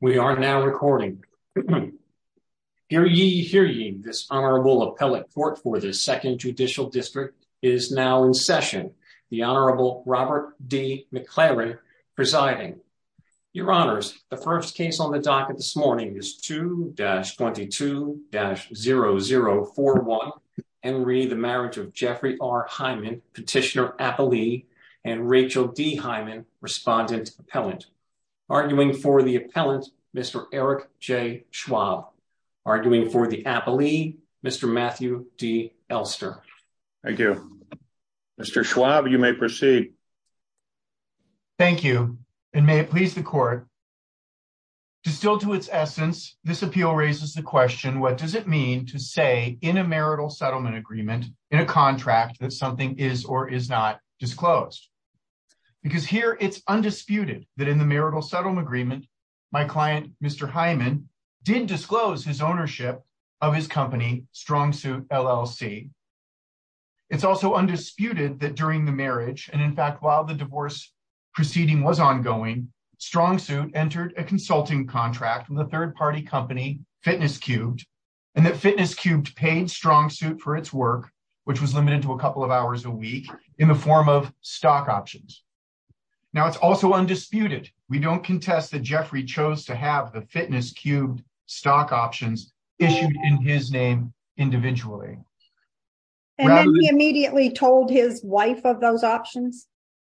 We are now recording. Hear ye, hear ye, this Honorable Appellate Court for the Second Judicial District is now in session. The Honorable Robert D. McLaren presiding. Your Honors, the first case on the docket this morning is 2-22-0041, Henry, the marriage of Jeffrey R. Hyman, Respondent Appellant. Arguing for the Appellant, Mr. Eric J. Schwab. Arguing for the Appellee, Mr. Matthew D. Elster. Thank you. Mr. Schwab, you may proceed. Thank you, and may it please the Court. Distilled to its essence, this appeal raises the question, what does it mean to say in a marital settlement agreement, in a contract, that something is or it's undisputed that in the marital settlement agreement, my client, Mr. Hyman, did disclose his ownership of his company, StrongSuit, LLC. It's also undisputed that during the marriage, and in fact, while the divorce proceeding was ongoing, StrongSuit entered a consulting contract with a third-party company, Fitness Cubed, and that Fitness Cubed paid StrongSuit for its work, which was limited to a couple of hours a week, in the form of stock options. Now, it's also undisputed. We don't contest that Jeffrey chose to have the Fitness Cubed stock options issued in his name individually. And then he immediately told his wife of those options,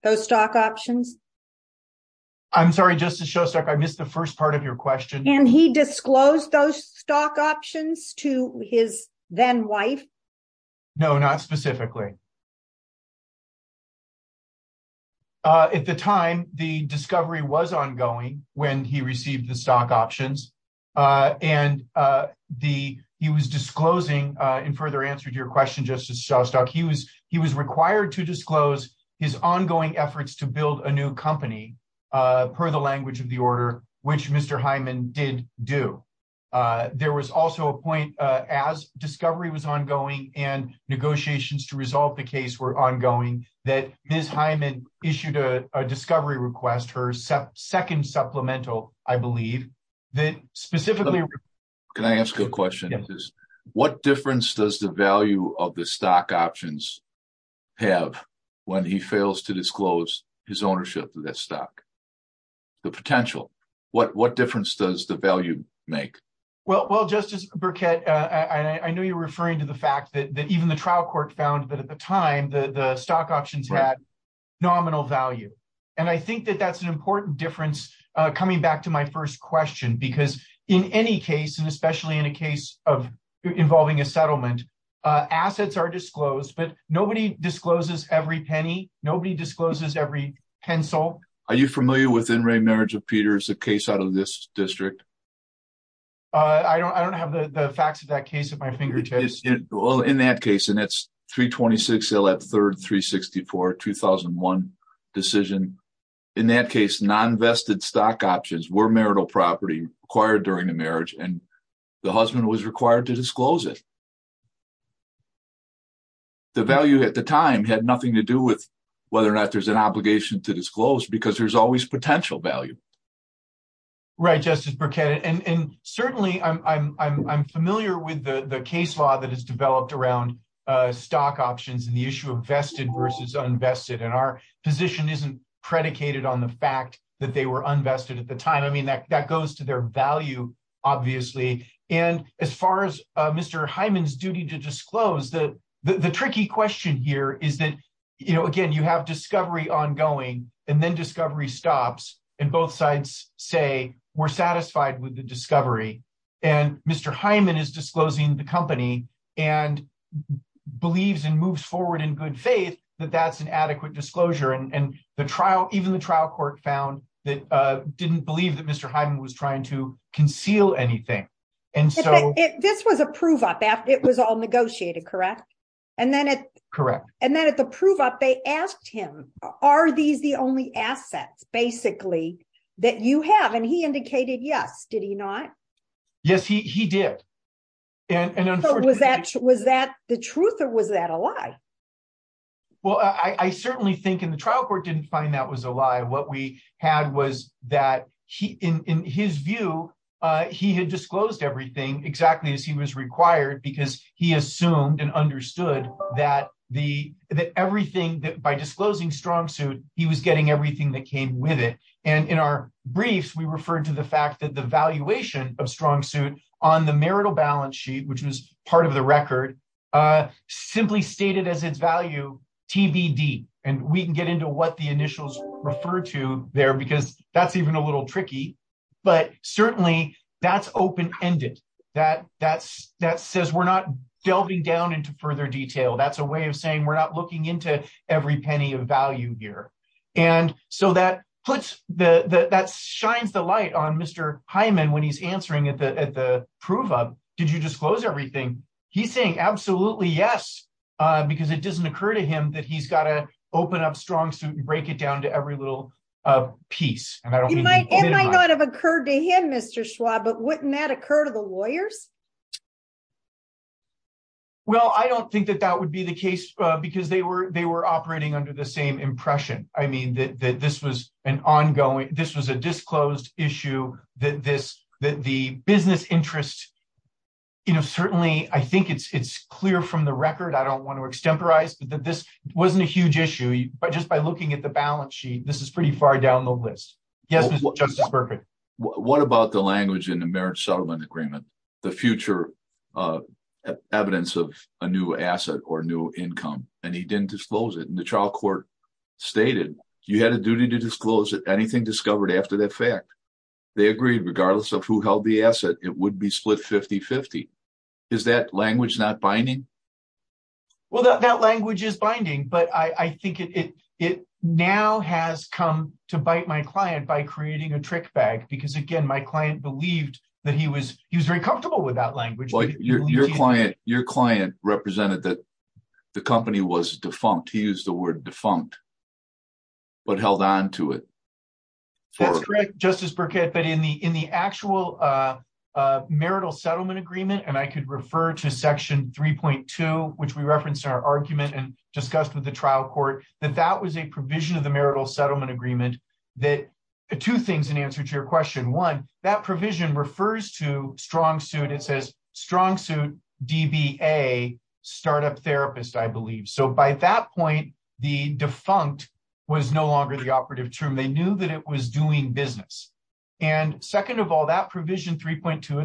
those stock options? I'm sorry, Justice Shostak, I missed the first part of your question. And he disclosed those stock options to his then-wife? No, not specifically. At the time, the discovery was ongoing when he received the stock options. And he was disclosing, in further answer to your question, Justice Shostak, he was required to disclose his ongoing efforts to build a new company, per the language of the order, which Mr. Hyman did do. There was a point, as discovery was ongoing, and negotiations to resolve the case were ongoing, that Ms. Hyman issued a discovery request, her second supplemental, I believe. Can I ask a question? What difference does the value of the stock options have when he fails to disclose his ownership of that stock? The potential. What difference does the value make? Well, Justice Burkett, I know you're referring to the fact that even the trial court found that at the time, the stock options had nominal value. And I think that that's an important difference, coming back to my first question, because in any case, and especially in a case involving a settlement, assets are disclosed, but nobody discloses every penny, nobody discloses every pencil. Are you familiar with In re Marriage of Peters, the case out of this district? I don't have the facts of that case at my fingertips. Well, in that case, and that's 326 Hill at 3rd, 364, 2001 decision. In that case, non-vested stock options were marital property required during the marriage, and the husband was required to disclose it. The value at the time had nothing to do with whether or not there's an Right, Justice Burkett. And certainly, I'm familiar with the case law that has developed around stock options and the issue of vested versus unvested. And our position isn't predicated on the fact that they were unvested at the time. I mean, that goes to their value, obviously. And as far as Mr. Hyman's duty to disclose, the tricky question here is that, again, you have discovery stops, and both sides say we're satisfied with the discovery. And Mr. Hyman is disclosing the company and believes and moves forward in good faith that that's an adequate disclosure. And the trial, even the trial court found that didn't believe that Mr. Hyman was trying to conceal anything. And so this was a prove up after it was all negotiated, correct? And then at the prove up, they asked him, are these the only assets, basically, that you have? And he indicated yes. Did he not? Yes, he did. And was that the truth or was that a lie? Well, I certainly think in the trial court didn't find that was a lie. What we had was that in his view, he had disclosed everything exactly as he was required because he assumed and understood that everything that by disclosing StrongSuit, he was getting everything that came with it. And in our briefs, we referred to the fact that the valuation of StrongSuit on the marital balance sheet, which was part of the record, simply stated as its value TBD. And we can get into what the initials refer to there because that's even a little tricky. But certainly, that's open ended. That says we're not delving down into further detail. That's a way of saying we're not looking into every penny of value here. And so that shines the light on Mr. Hyman when he's answering at the prove up, did you disclose everything? He's saying absolutely yes, because it doesn't occur to him that he's got to open up StrongSuit and break it down to every little piece. It might not have occurred to him, Mr. Schwab, but wouldn't that occur to the lawyers? Well, I don't think that that would be the case because they were operating under the same impression. I mean, that this was an ongoing, this was a disclosed issue that the business interest, certainly, I think it's clear from the record. I don't want to extemporize, but that this wasn't a huge issue. But just by looking at the balance sheet, this is pretty far down the list. Yes, Mr. Justice Burkett. What about the language in the marriage settlement agreement, the future evidence of a new asset or new income, and he didn't disclose it. And the trial court stated you had a duty to disclose anything discovered after that fact. They agreed, regardless of who held the asset, it would be split 50-50. Is that language not binding? Well, that language is binding, but I think it now has come to bite my client by creating a trick bag because, again, my client believed that he was very comfortable with that language. Your client represented that the company was defunct. He used the word defunct, but held on to it. That's correct, Justice Burkett. But in the actual marital settlement agreement, and I could refer to section 3.2, which we referenced in our argument and discussed with the trial court, that that was a provision of the marital settlement agreement. Two things in answer to your question. One, that provision refers to StrongSuit. It says StrongSuit DBA startup therapist, I believe. So by that point, the defunct was no longer the it's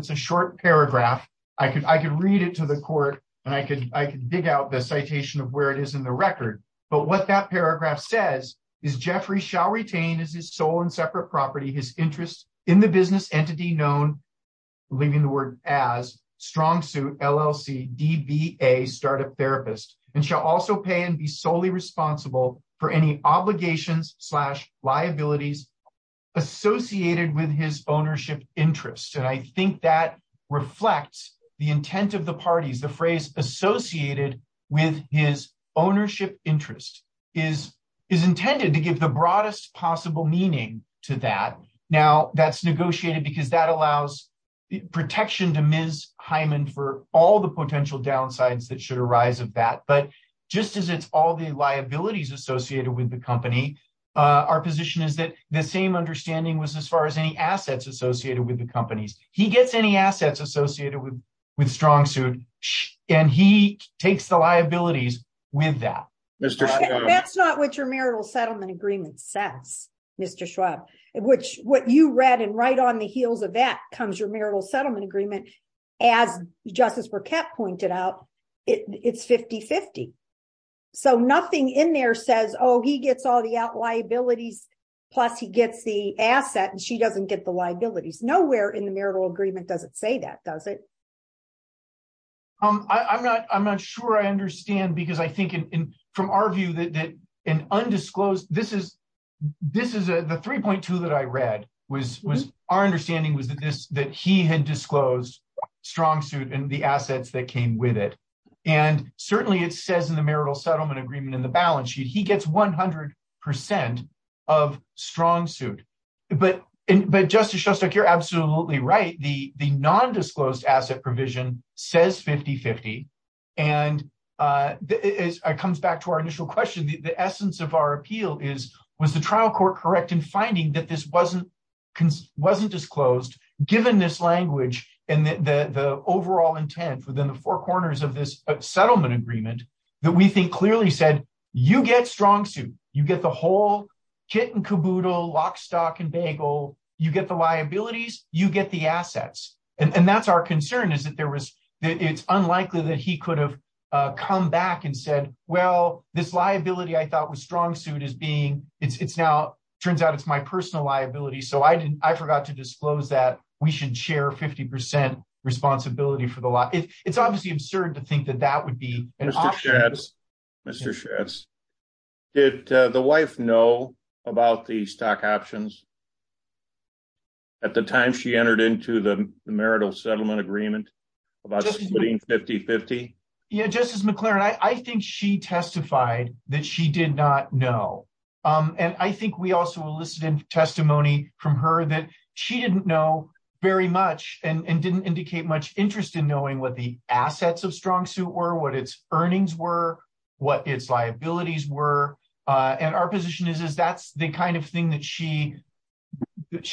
a short paragraph. I could read it to the court, and I could dig out the citation of where it is in the record. But what that paragraph says is Jeffrey shall retain as his sole and separate property his interest in the business entity known, leaving the word as, StrongSuit LLC DBA startup therapist, and shall also pay and be solely responsible for any obligations liabilities associated with his ownership interest. And I think that reflects the intent of the parties. The phrase associated with his ownership interest is intended to give the broadest possible meaning to that. Now, that's negotiated because that allows protection to Ms. Hyman for all the potential downsides that should arise of that. But just as it's all the liabilities associated with the company, our position is that the same understanding was as far as any assets associated with the companies. He gets any assets associated with StrongSuit, and he takes the liabilities with that. That's not what your marital settlement agreement says, Mr. Schwab, which what you read and right on the heels of that comes your marital settlement agreement. As Justice Burkett pointed out, it's 50-50. So nothing in there says, oh, he gets all the out liabilities, plus he gets the asset, and she doesn't get the liabilities. Nowhere in the marital agreement does it say that, does it? I'm not sure I understand because I think in from our view that an undisclosed, this is the 3.2 that I read was our understanding was that he had disclosed StrongSuit and the assets that came with it. And certainly it says in the marital settlement agreement in the balance sheet, he gets 100% of StrongSuit. But Justice Shostak, you're absolutely right. The non-disclosed asset provision says 50-50. And it comes back to our initial question, the essence of our appeal is, was the trial court correct in finding that this wasn't disclosed given this language and the overall intent within the four corners of this settlement agreement that we think clearly said, you get StrongSuit, you get the whole kit and caboodle, lock, stock and bagel, you get the liabilities, you get the assets. And that's our concern is that it's unlikely that he could have come back and said, well, this liability I personal liability. So I didn't, I forgot to disclose that we should share 50% responsibility for the law. It's obviously absurd to think that that would be an option. Mr. Schatz, did the wife know about the stock options at the time she entered into the marital settlement agreement about splitting 50-50? Yeah, Justice McClaren, I think she testified that she did not know. And I think we also enlisted in testimony from her that she didn't know very much and didn't indicate much interest in knowing what the assets of StrongSuit were, what its earnings were, what its liabilities were. And our position is, is that's the kind of thing that she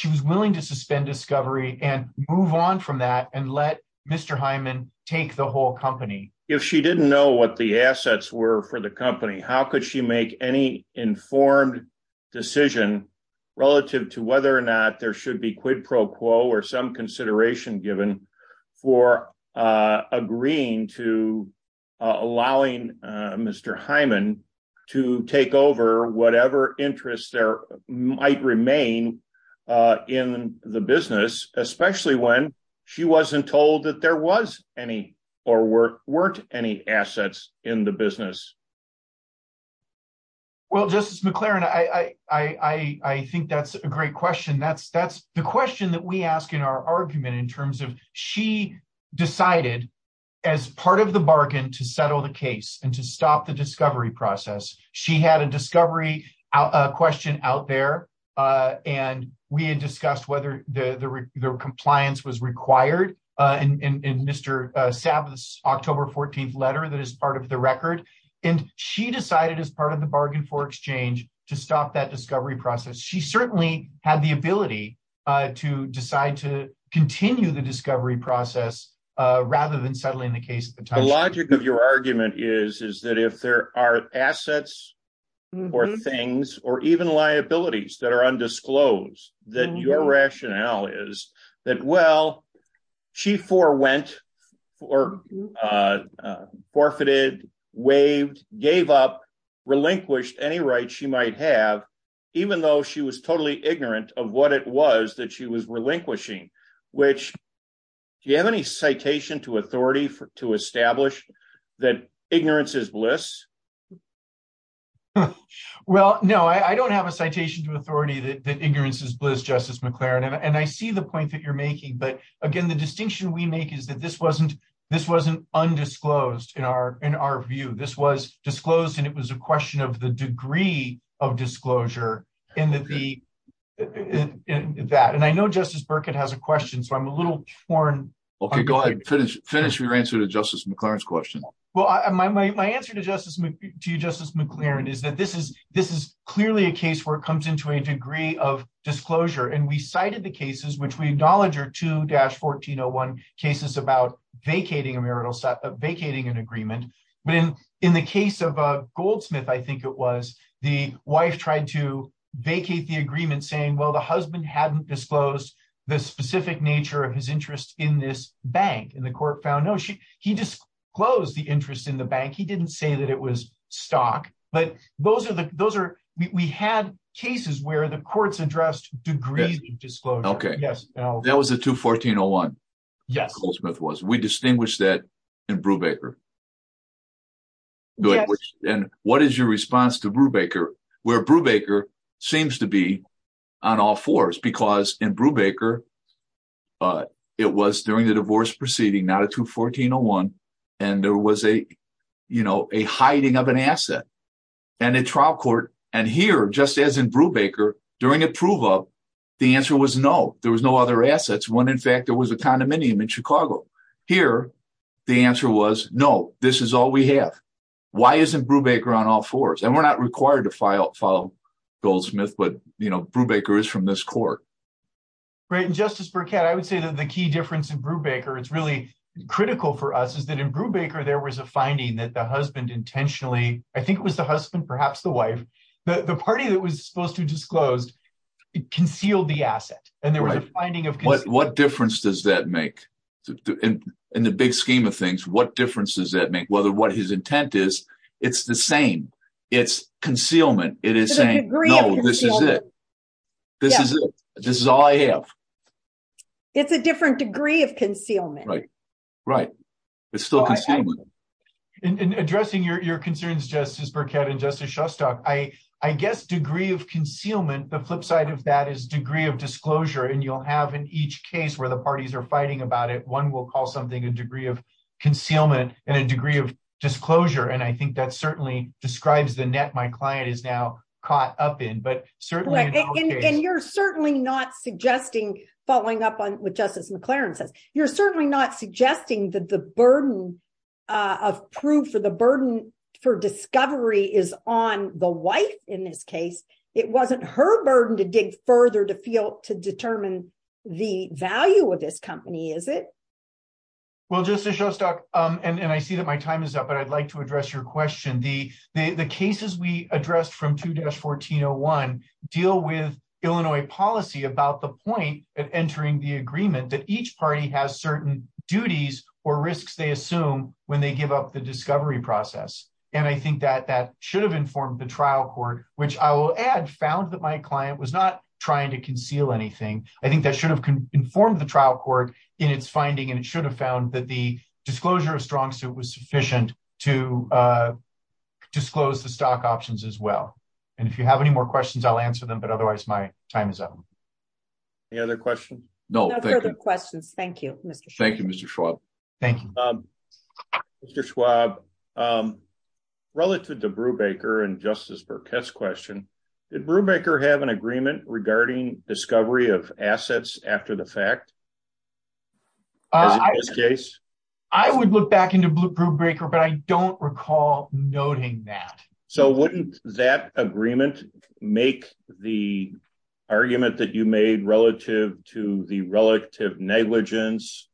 was willing to suspend discovery and move on from that and let Mr. Hyman take the whole company. If she didn't know what the assets were for the company, how could she make any informed decision relative to whether or not there should be quid pro quo or some consideration given for agreeing to allowing Mr. Hyman to take over whatever interests there might remain in the business, especially when she wasn't told that there was any or weren't any assets in the business? Well, Justice McLaren, I think that's a great question. That's the question that we ask in our argument in terms of she decided as part of the bargain to settle the case and to stop the discovery process. She had a discovery question out there and we had discussed whether the compliance was required in Mr. Saab's October 14th letter that is part of the record. And she decided as part of the bargain for exchange to stop that discovery process. She certainly had the ability to decide to continue the discovery process rather than settling the case at the time. The logic of your argument is that if there are assets or things or even is that, well, she forwent or forfeited, waived, gave up, relinquished any rights she might have, even though she was totally ignorant of what it was that she was relinquishing, which do you have any citation to authority to establish that ignorance is bliss? Well, no, I don't have a citation to authority that ignorance is bliss, Justice McLaren. And I see the point that you're making. But again, the distinction we make is that this wasn't undisclosed in our view. This was disclosed and it was a question of the degree of disclosure in that. And I know Justice Burkett has a question, so I'm a little torn. Okay, go ahead. Finish your answer to Justice McLaren's question. Well, my answer to you, Justice McLaren, is that this is clearly a case where it comes into a degree of disclosure. And we cited the cases, which we acknowledge are 2-1401 cases about vacating an agreement. But in the case of Goldsmith, I think it was, the wife tried to vacate the agreement saying, well, the husband hadn't disclosed the specific nature of his interest in the bank. He didn't say that it was stock. But we had cases where the courts addressed degrees of disclosure. Okay. That was a 2-1401. Yes. Goldsmith was. We distinguish that in Brubaker. And what is your response to Brubaker, where Brubaker seems to be on all a, you know, a hiding of an asset and a trial court. And here, just as in Brubaker, during approval, the answer was no. There was no other assets when, in fact, there was a condominium in Chicago. Here, the answer was, no, this is all we have. Why isn't Brubaker on all fours? And we're not required to follow Goldsmith, but, you know, Brubaker is from this court. Right. And Justice Burkett, I would say that the key difference in Brubaker, it's really critical for us, is that in Brubaker, there was a finding that the husband intentionally, I think it was the husband, perhaps the wife, the party that was supposed to disclose concealed the asset. And there was a finding of- What difference does that make? In the big scheme of things, what difference does that make? Whether what his intent is, it's the same. It's concealment. It is saying, no, this is it. This is it. This is all I have. It's a different degree of concealment. Right. It's still concealment. In addressing your concerns, Justice Burkett and Justice Shostak, I guess degree of concealment, the flip side of that is degree of disclosure. And you'll have in each case where the parties are fighting about it, one will call something a degree of concealment and a degree of disclosure. And I think that certainly describes the net my client is now caught up in, but certainly- And you're certainly not suggesting, following up on what Justice McLaren says, you're certainly not suggesting that the burden of proof or the burden for discovery is on the wife in this case. It wasn't her burden to dig further to determine the value of this company, is it? Well, Justice Shostak, and I see that my time is up, but I'd like to address your question. The cases we addressed from 2-1401 deal with Illinois policy about the point of entering the agreement that each party has certain duties or risks they assume when they give up the discovery process. And I think that that should have informed the trial court, which I will add found that my client was not trying to conceal anything. I think that should have informed the trial court in its finding, and it should have found that the disclosure of strong suit was sufficient to disclose the stock options as well. And if you have any more questions, I'll answer them, but otherwise, my time is up. Any other questions? No. No further questions. Thank you, Mr. Schwab. Thank you, Mr. Schwab. Thank you. Mr. Schwab, relative to Brubaker and Justice Burkett's question, did Brubaker have an agreement regarding discovery of assets after the fact, as in this case? I would look back into Brubaker, but I don't recall noting that. So wouldn't that agreement make the argument that you made relative to the relative negligence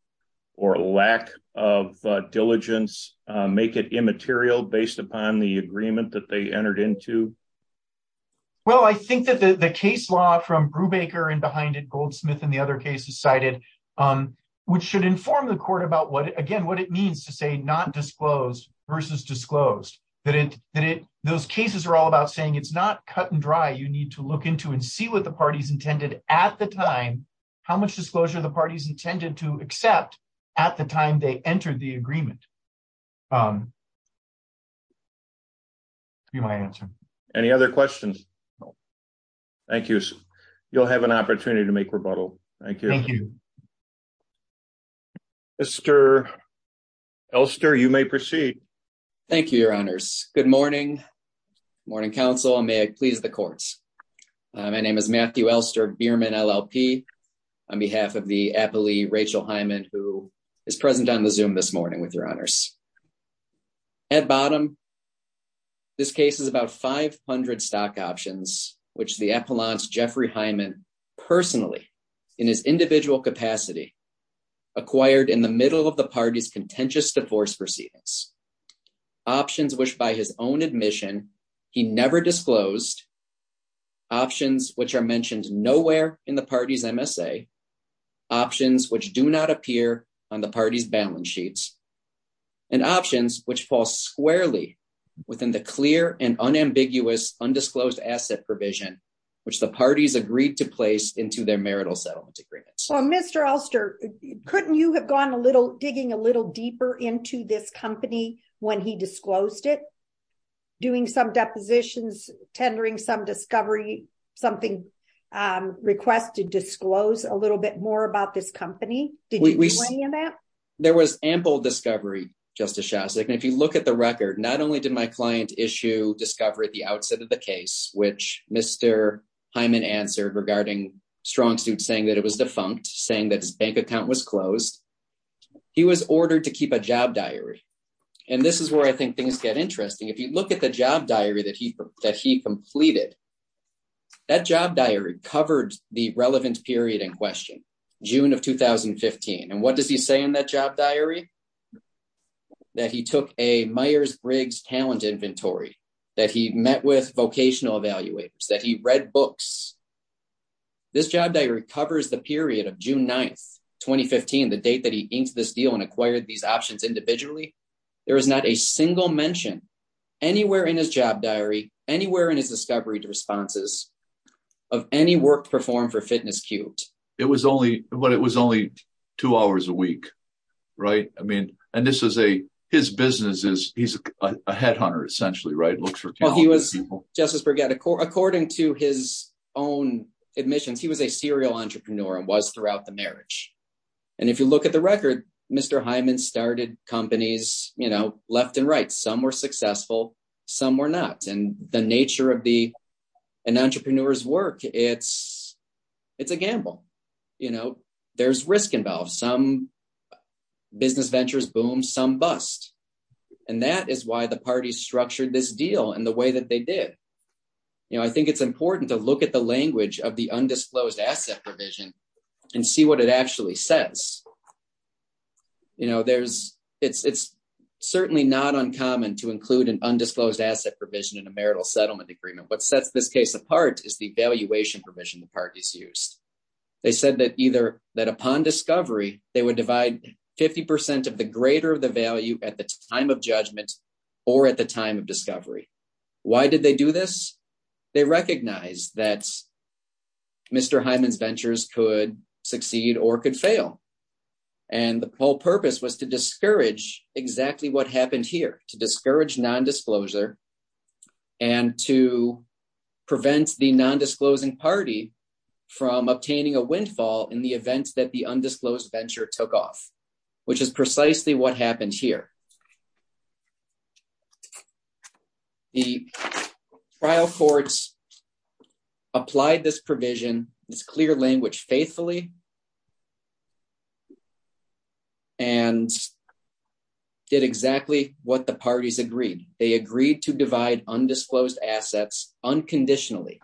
or lack of diligence, make it immaterial based upon the agreement that they entered into? Well, I think that the case law from Brubaker and behind it, Goldsmith and the other cases cited, which should inform the court about what, again, what it means to say not disclosed versus disclosed, that those cases are all about saying it's not cut and dry. You need to look into and see what the party's intended at the time, how much disclosure the party's intended to accept at the time they entered the agreement. That would be my answer. Any other questions? No. Thank you. You'll have an opportunity to make rebuttal. Thank you. Thank you. Mr. Elster, you may proceed. Thank you, your honors. Good morning. Morning, counsel, and may it please the courts. My name is Matthew Elster, Beerman, LLP, on behalf of the appellee, Rachel Hyman, who is present on the Zoom this morning with your honors. At bottom, this case is about 500 stock options which the appellant, Jeffrey Hyman, personally, in his individual capacity, acquired in the middle of the party's contentious divorce proceedings. Options which, by his own admission, he never disclosed, options which are mentioned nowhere in the party's MSA, options which do not appear on the party's balance sheets, and options which fall squarely within the clear and unambiguous undisclosed asset provision which the parties agreed to place into their marital settlement agreement. Well, Mr. Elster, couldn't you have gone a little, digging a little deeper into this company when he disclosed it, doing some depositions, tendering some discovery, something, requested disclosed a little bit more about this company? Did you see any of that? There was ample discovery, Justice Shastrick, and if you look at the record, not only did my client issue discovery at the outset of the case, which Mr. Hyman answered regarding StrongSuit saying that it was defunct, saying that his bank account was closed, he was ordered to keep a job diary. And this is where I think things get interesting. If you look at the job diary that he completed, that job diary covered the relevant period in question, June of 2015. And what does he say in that job diary? That he took a Myers-Briggs talent inventory, that he met with vocational evaluators, that he read books. This job diary covers the period of June 9th, 2015, the date that he inked this deal and acquired these options individually. There is not a single mention anywhere in his job diary, anywhere in his discovery responses of any work performed for Fitness Cubed. It was only two hours a week, right? I mean, and this is a, his business is, he's a headhunter, essentially, right? He looks for talented people. Justice Burgett, according to his own admissions, he was a serial entrepreneur and was throughout the marriage. And if you look at the record, Mr. Hyman started companies left and right, some were successful, some were not. And the nature of an entrepreneur's work, it's a gamble. You know, there's risk involved. Some business ventures boom, some bust. And that is why the parties structured this deal in the way that they did. You know, I think it's important to look at the language of the undisclosed asset provision and see what it actually says. You know, there's, it's certainly not uncommon to include an undisclosed asset provision in a marital settlement agreement. What sets this case apart is the valuation provision the parties used. They said that either, that upon discovery, they would divide 50% of the greater of the value at the time of judgment or at the time of discovery. Why did they do this? They recognized that Mr. Hyman's ventures could succeed or could fail. And the whole purpose was to discourage exactly what happened here, to discourage nondisclosure and to prevent the nondisclosing party from obtaining a windfall in the events that the undisclosed venture took off, which is precisely what happened here. The trial courts applied this provision, this clear language faithfully, and did exactly what the parties agreed. They agreed to divide undisclosed assets unconditionally.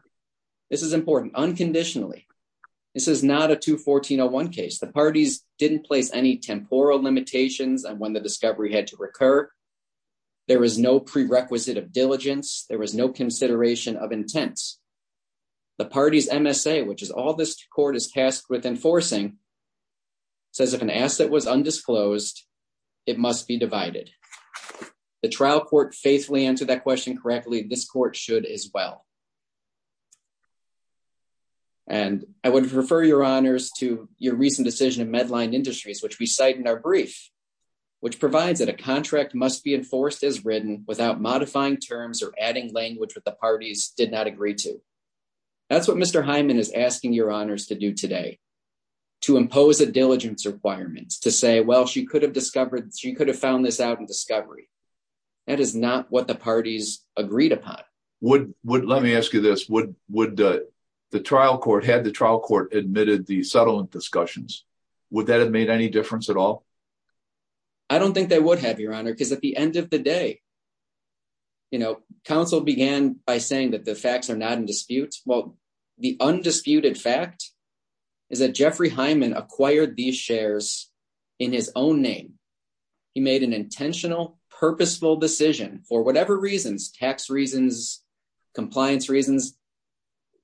This is important, unconditionally. This is not a 214-01 case. The parties didn't place any temporal limitations on when the discovery had to recur. There was no prerequisite of diligence. There was no consideration of intents. The party's MSA, which is all this court is tasked with enforcing, says if an asset was undisclosed, it must be divided. The trial court faithfully answered that question correctly. This court should as well. And I would refer your honors to your recent decision in Medline Industries, which we cite in our brief, which provides that a contract must be enforced as written without modifying terms or adding language that the parties did not agree to. That's what Mr. Hyman is asking your honors to do today, to impose a diligence requirement, to say, well, she could have discovered, she could have found this out discovery. That is not what the parties agreed upon. Let me ask you this. Would the trial court, had the trial court admitted the settlement discussions, would that have made any difference at all? I don't think they would have, your honor, because at the end of the day, you know, counsel began by saying that the facts are not in dispute. Well, the undisputed fact is that Jeffrey Hyman acquired these shares in his own name. He made an intentional, purposeful decision for whatever reasons, tax reasons, compliance reasons.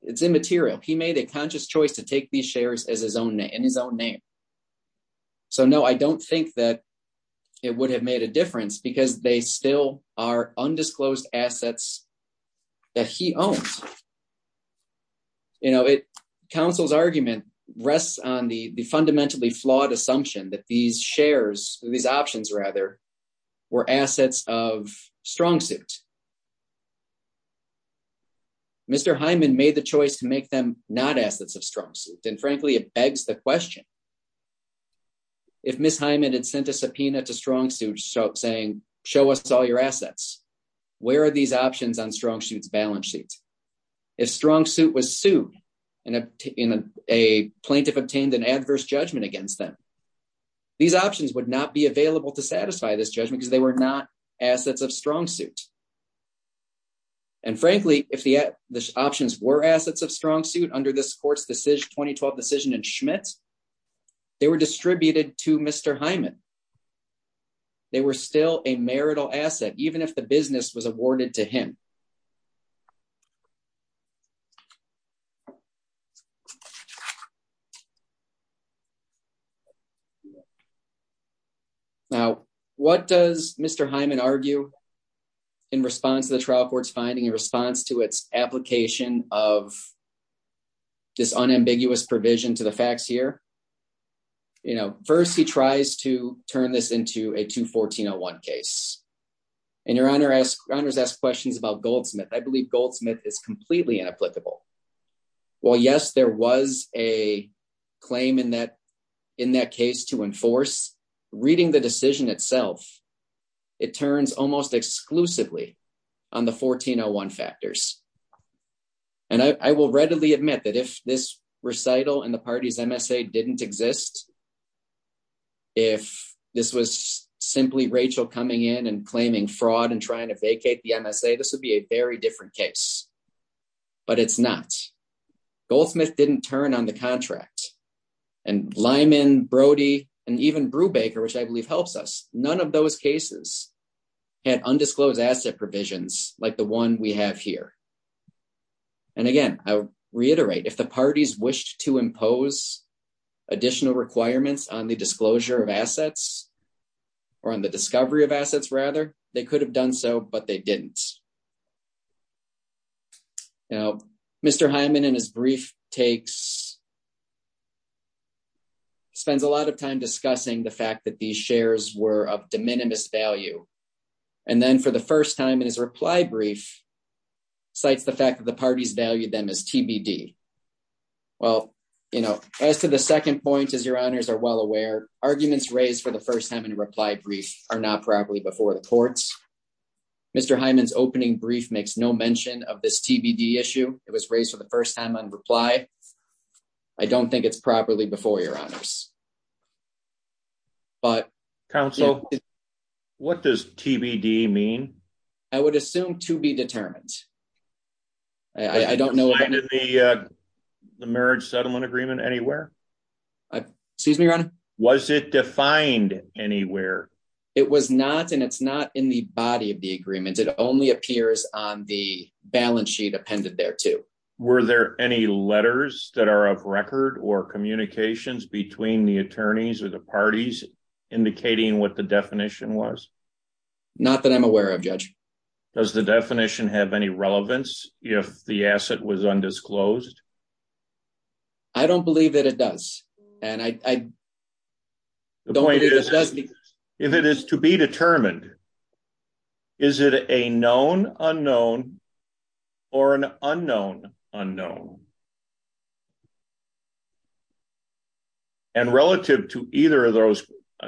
It's immaterial. He made a conscious choice to take these shares as his own name and his own name. So no, I don't think that it would have made a difference because they still are undisclosed assets that he owns. You know, counsel's argument rests on the fundamentally flawed assumption that these shares, these options rather, were assets of StrongSuit. Mr. Hyman made the choice to make them not assets of StrongSuit. And frankly, it begs the question if Ms. Hyman had sent a subpoena to StrongSuit saying, show us all your assets, where are these options on StrongSuit's balance sheets? If StrongSuit was sued and a plaintiff obtained an adverse judgment against them, these options would not be available to satisfy this judgment because they were not assets of StrongSuit. And frankly, if the options were assets of StrongSuit under this court's Mr. Hyman, they were still a marital asset, even if the business was awarded to him. Now, what does Mr. Hyman argue in response to the trial court's finding, in response to its ambiguous provision to the facts here? First, he tries to turn this into a 214-01 case. And your Honor has asked questions about Goldsmith. I believe Goldsmith is completely inapplicable. While yes, there was a claim in that case to enforce, reading the decision itself, it turns almost exclusively on the 1401 factors. And I will readily admit that if this recital and the party's MSA didn't exist, if this was simply Rachel coming in and claiming fraud and trying to vacate the MSA, this would be a very different case. But it's not. Goldsmith didn't on the contract. And Lyman, Brody, and even Brubaker, which I believe helps us, none of those cases had undisclosed asset provisions like the one we have here. And again, I reiterate, if the parties wished to impose additional requirements on the disclosure of assets, or on the discovery of assets rather, they could have done so, but they didn't. Now, Mr. Hyman, in his brief, spends a lot of time discussing the fact that these shares were of de minimis value. And then for the first time in his reply brief, cites the fact that the parties valued them as TBD. Well, as to the second point, as your Honors are well aware, arguments raised for the first time in a reply brief are not properly before the courts. Mr. Hyman's opening brief makes no mention of this TBD issue. It was raised for the first time on reply. I don't think it's properly before your Honors. But Council, what does TBD mean? I would assume to be determined. I don't know the marriage settlement agreement anywhere. Excuse me, Your Honor? Was it defined anywhere? It was not and it's not in the body of the agreement. It only appears on the balance sheet appended there too. Were there any letters that are of record or communications between the attorneys or the parties indicating what the definition was? Not that I'm aware of, Judge. Does the definition have any relevance if the asset was undisclosed? I don't believe that it does. And I don't believe it does. If it is to be determined, is it a known unknown or an unknown unknown? And relative to either of those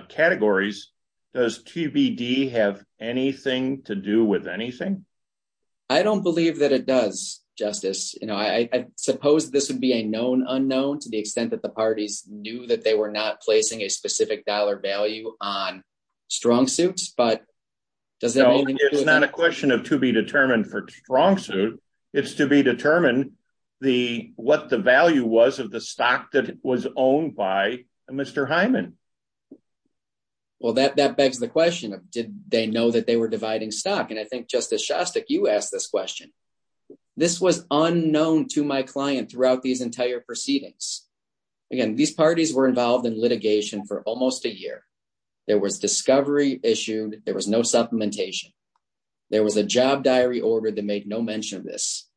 categories, does TBD have anything to do with anything? I don't believe that it does, Justice. I suppose this would be a known unknown to the extent that the parties knew that they were not placing a specific dollar value on StrongSuit. It's not a question of to be determined for StrongSuit. It's to be determined what the value was of the stock that was owned by Mr. Hyman. Well, that begs the question. Did they know that they were dividing stock? And I think Justice Shostak, you asked this question. This was unknown to my client throughout these entire proceedings. Again, these parties were involved in litigation for almost a year. There was discovery issued. There was no supplementation. There was a job diary order that made no mention of this.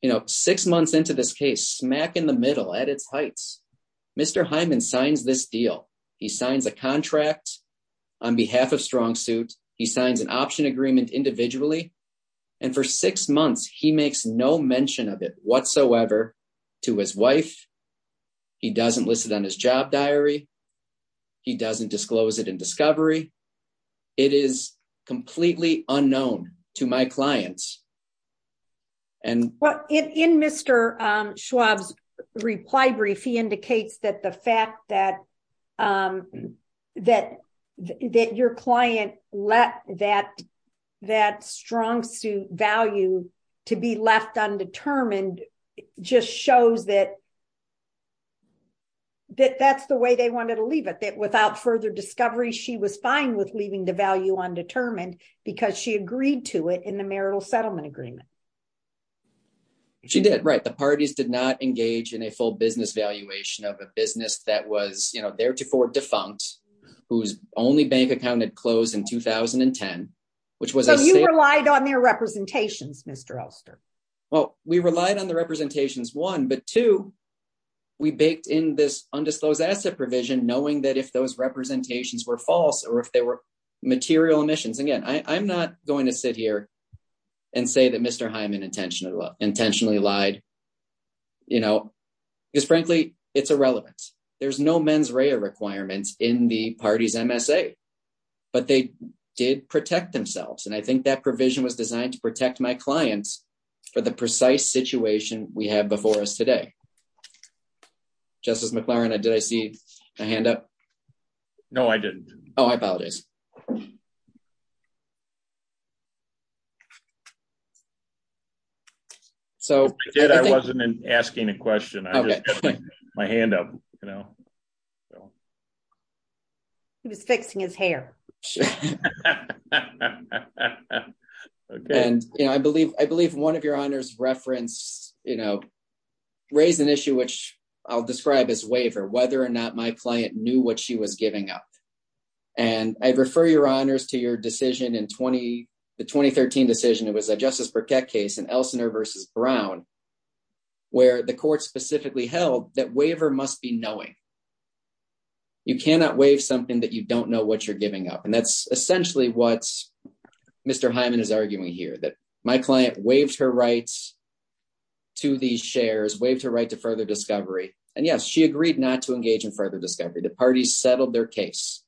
You know, six months into this case, smack in the middle at its heights, Mr. Hyman signs this deal. He signs a contract on behalf of StrongSuit. He signs an option agreement individually. And for six months, he makes no mention of it whatsoever to his wife. He doesn't list it on his job diary. He doesn't disclose it in discovery. It is completely unknown to my clients. Well, in Mr. Schwab's reply brief, he indicates that the fact that your client let that StrongSuit value to be left undetermined just shows that that's the way they wanted to leave it, that without further discovery, she was fine with leaving the value undetermined because she agreed to it in the marital settlement agreement. She did. Right. The parties did not engage in a full business valuation of a business that was, you know, theretofore defunct, whose only bank account had closed in 2010, which was... So you relied on their representations, Mr. Elster? Well, we relied on the representations, one. But two, we baked in this undisclosed asset provision, knowing that if those representations were false or if they were material emissions... I'm not going to sit here and say that Mr. Hyman intentionally lied, you know, because frankly, it's irrelevant. There's no mens rea requirements in the party's MSA, but they did protect themselves. And I think that provision was designed to protect my clients for the precise situation we have before us today. Justice McLaren, did I see a hand up? No, I didn't. Oh, I apologize. So... I wasn't asking a question. I just got my hand up, you know. He was fixing his hair. And, you know, I believe one of your honors referenced, you know, raised an issue, which I'll describe as waiver, whether or not my client knew what she was giving up. And I refer your honors to your decision in 20... the 2013 decision, it was a Justice Burkett case in Elsinore versus Brown, where the court specifically held that waiver must be knowing. You cannot waive something that you don't know what you're giving up. And that's essentially what Mr. Hyman is arguing here, that my client waived her rights to these shares, waived her right to further discovery. And yes, she agreed not to engage in further discovery. The party settled their case,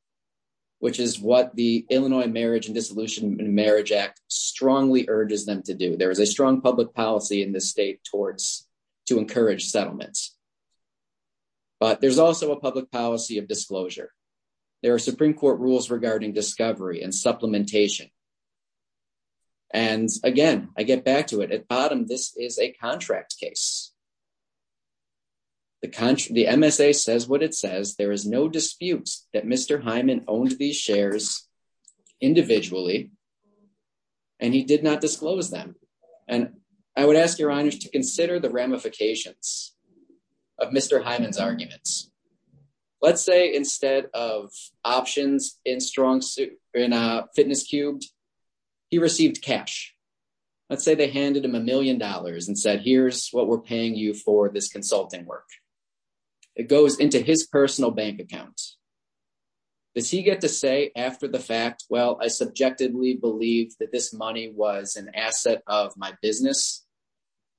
which is what the Illinois Marriage and Dissolution and Marriage Act strongly urges them to do. There is a strong public policy in this state towards... to encourage settlements. But there's also a public policy of disclosure. There are Supreme Court rules regarding discovery and supplementation. And again, I get back to it. At bottom, this is a contract case. The country... the MSA says what it says, there is no dispute that Mr. Hyman owned these shares individually, and he did not disclose them. And I would ask your honors to consider the ramifications of Mr. Hyman's arguments. Let's say instead of options in strong suit... in a fitness cube, he received cash. Let's say they handed him a million dollars and said, here's what we're paying you for this consulting work. It goes into his personal bank account. Does he get to say after the fact, well, I subjectively believed that this money was an asset of my business.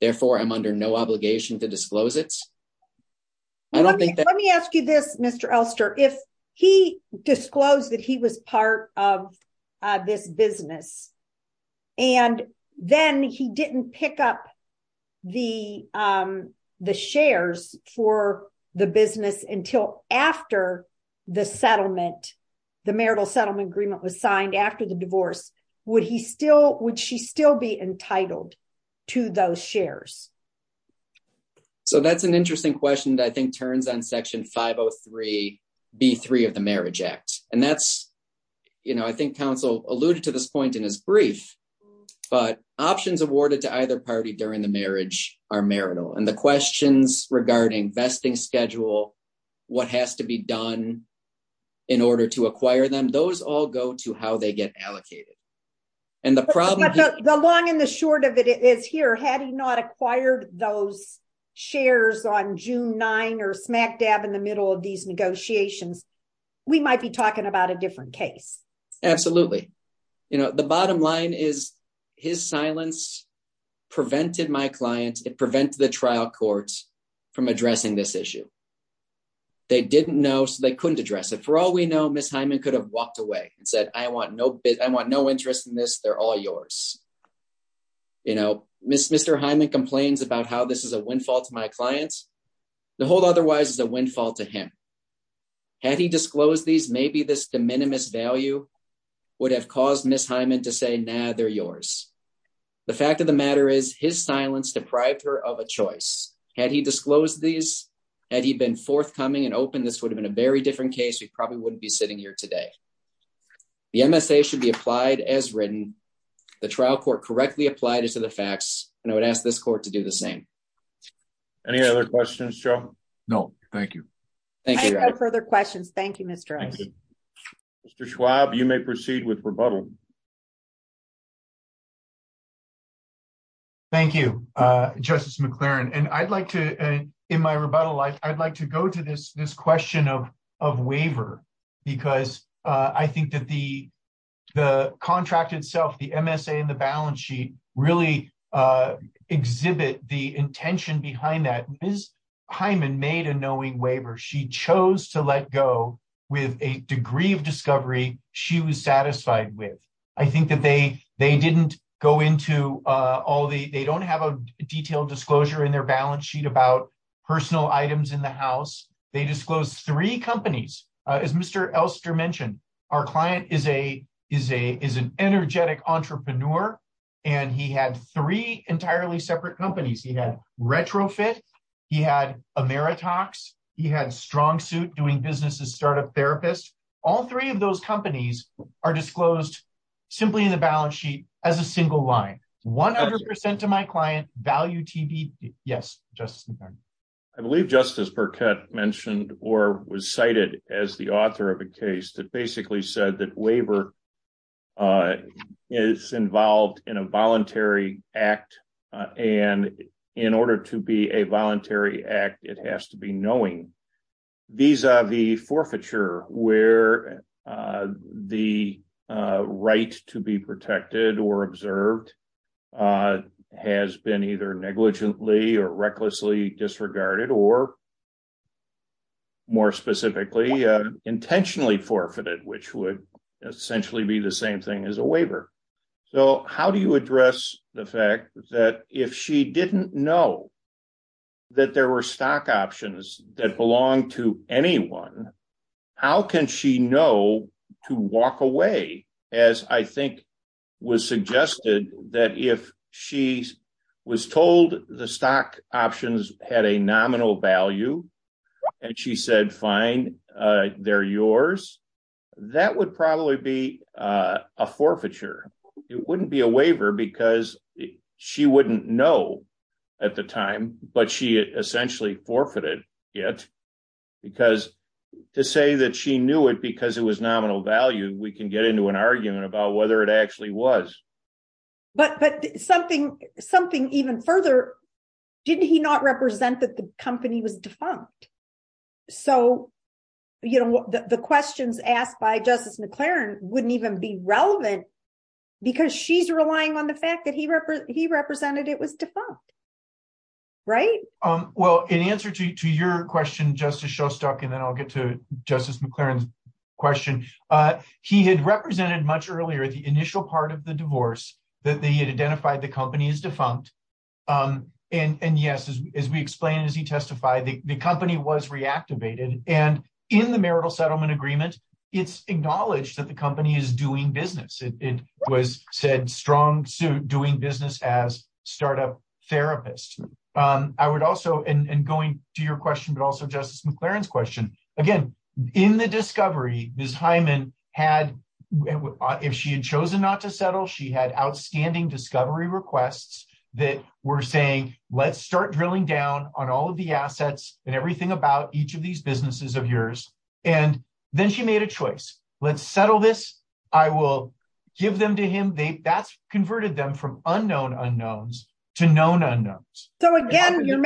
Therefore, I'm under no obligation to disclose it. Let me ask you this, Mr. Elster. If he disclosed that he was part of this business, and then he didn't pick up the shares for the business until after the settlement, the marital settlement agreement was signed after the divorce, would he still... would she still be entitled to those shares? So that's an interesting question that I think turns on Section 503 B3 of the Marriage Act. And that's, you know, I think counsel alluded to this point in his brief, but options awarded to either party during the marriage are marital. And the questions regarding vesting schedule, what has to be done in order to acquire them, those all go to how they get allocated. And the problem... The long and the short of it is here, had he not acquired those shares on June 9, or smack dab in the middle of these negotiations, we might be talking about a different case. Absolutely. You know, the bottom line is, his silence prevented my clients, it prevented the trial courts from addressing this issue. They didn't know, so they couldn't address it. For all we know, Ms. Hyman could have walked away and said, I want no bid, I want no interest in this, they're all yours. You know, Mr. Hyman complains about how this is a windfall to my clients. The whole otherwise is a windfall to him. Had he disclosed these, maybe this de minimis value would have caused Ms. Hyman to say, nah, they're yours. The fact of the matter is, his silence deprived her of a choice. Had he disclosed these, had he been forthcoming and open, this would have been a very different case. We probably wouldn't be sitting here today. The MSA should be applied as written. The trial court correctly applied it to the facts, and I would ask this court to do the same. Any other questions, Joe? No, thank you. Thank you. No further questions. Thank you, Mr. Rice. Mr. Schwab, you may proceed with rebuttal. Thank you, Justice McLaren. And I'd like to, in my rebuttal, I'd like to go to this question of waiver, because I think that the contract itself, the MSA and the balance sheet really exhibit the intention behind that. Ms. Hyman made a knowing waiver. She chose to let go with a degree of discovery she was satisfied with. I think that they didn't go into all the, they don't have a detailed disclosure in their balance sheet about personal items in the house. They disclosed three companies. As Mr. Elster mentioned, our client is an energetic entrepreneur, and he had three entirely separate companies. He had Retrofit, he had Ameritox, he had StrongSuit doing business as startup therapist. All three of those companies are disclosed simply in the balance sheet as a single line. 100% to my client, value TBD. Yes, Justice McLaren. I believe Justice Burkett mentioned or was cited as the author of a case that basically said that waiver is involved in a voluntary act. And in order to be a voluntary act, it has to be knowing. These are the forfeiture where the right to be protected or observed has been either negligently or recklessly disregarded, or more specifically, intentionally forfeited, which would essentially be the same thing as a waiver. So how do you address the fact that if she didn't know that there were stock options that belong to anyone, how can she know to walk away? As I think was options had a nominal value, and she said, fine, they're yours. That would probably be a forfeiture. It wouldn't be a waiver because she wouldn't know at the time, but she essentially forfeited it. Because to say that she knew it because it was nominal value, we can get into an argument about whether it actually was. But something even further, didn't he not represent that the company was defunct? So the questions asked by Justice McLaren wouldn't even be relevant because she's relying on the fact that he represented it was defunct, right? Well, in answer to your question, Justice Shostak, and then I'll get to much earlier, the initial part of the divorce that they had identified the company as defunct. And yes, as we explained, as he testified, the company was reactivated. And in the marital settlement agreement, it's acknowledged that the company is doing business. It was said strong suit doing business as startup therapist. I would also, and going to your question, but also Justice McLaren's question, again, in the discovery, Ms. Hyman had, if she had chosen not to settle, she had outstanding discovery requests that were saying, let's start drilling down on all of the assets and everything about each of these businesses of yours. And then she made a choice. Let's settle this. I will give them to him. That's converted them from unknown unknowns to known unknowns. So again, you're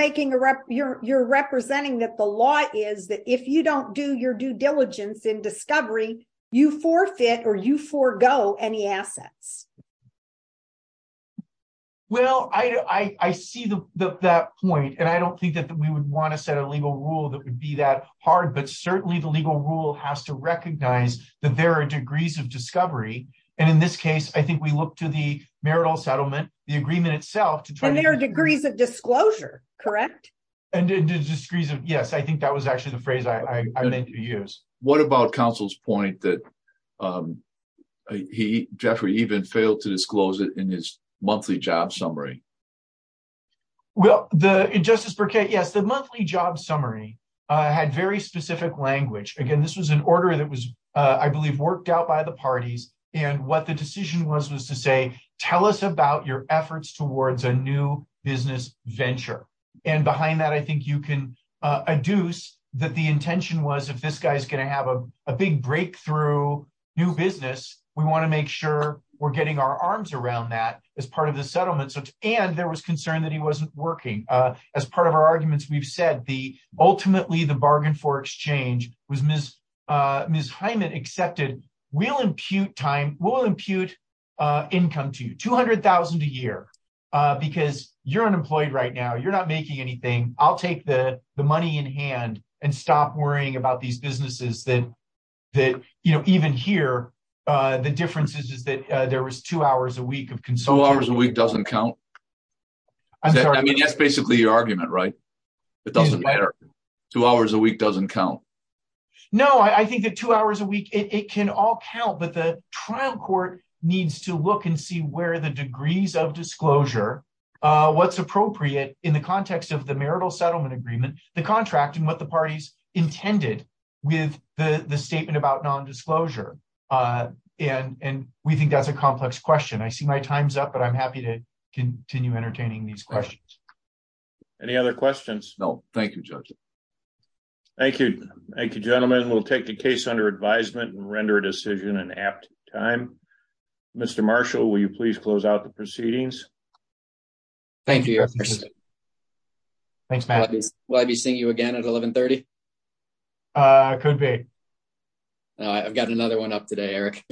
representing that the law is that if you don't do your due diligence in discovery, you forfeit or you forego any assets. Well, I see that point. And I don't think that we would want to set a legal rule that would be that hard, but certainly the legal rule has to recognize that there are degrees of discovery. And in this case, I think we look to the marital settlement, the agreement itself to try. And there are degrees of disclosure, correct? Yes. I think that was actually the phrase I meant to use. What about counsel's point that he Jeffrey even failed to disclose it in his monthly job summary? Well, the Justice Burkett, yes. The monthly job summary had very specific language. Again, this was an order that was, I believe, worked out by the parties. And what the decision was, was to say, tell us about your efforts towards a new business venture. And behind that, I think you can adduce that the intention was if this guy's going to have a big breakthrough new business, we want to make sure we're getting our arms around that as part of the settlement. And there was concern that he wasn't working. As part of our arguments, we've said the ultimately the bargain for exchange was Ms. Hyman accepted. We'll impute time. We'll impute income to you, 200,000 a year, because you're unemployed right now. You're not making anything. I'll take the money in hand and stop worrying about these businesses that even here, the difference is that there was two hours a week of consumption. Two hours a week doesn't count. I mean, that's basically your argument, right? It doesn't matter. Two hours a week doesn't count. No, I think that two hours a week, it can all count, but the trial court needs to look and see where the degrees of disclosure, what's appropriate in the context of the marital settlement agreement, the contract and what the parties intended with the statement about non-disclosure. And we think that's a complex question. I see my time's up, but I'm happy to continue entertaining these questions. Any other questions? No, thank you, Judge. Thank you. Thank you, gentlemen. We'll take the case under advisement and render a decision in apt time. Mr. Marshall, will you please close out the proceedings? Thank you. Thanks, Matt. Will I be seeing you again at 1130? Could be. I've got another one up today, Eric.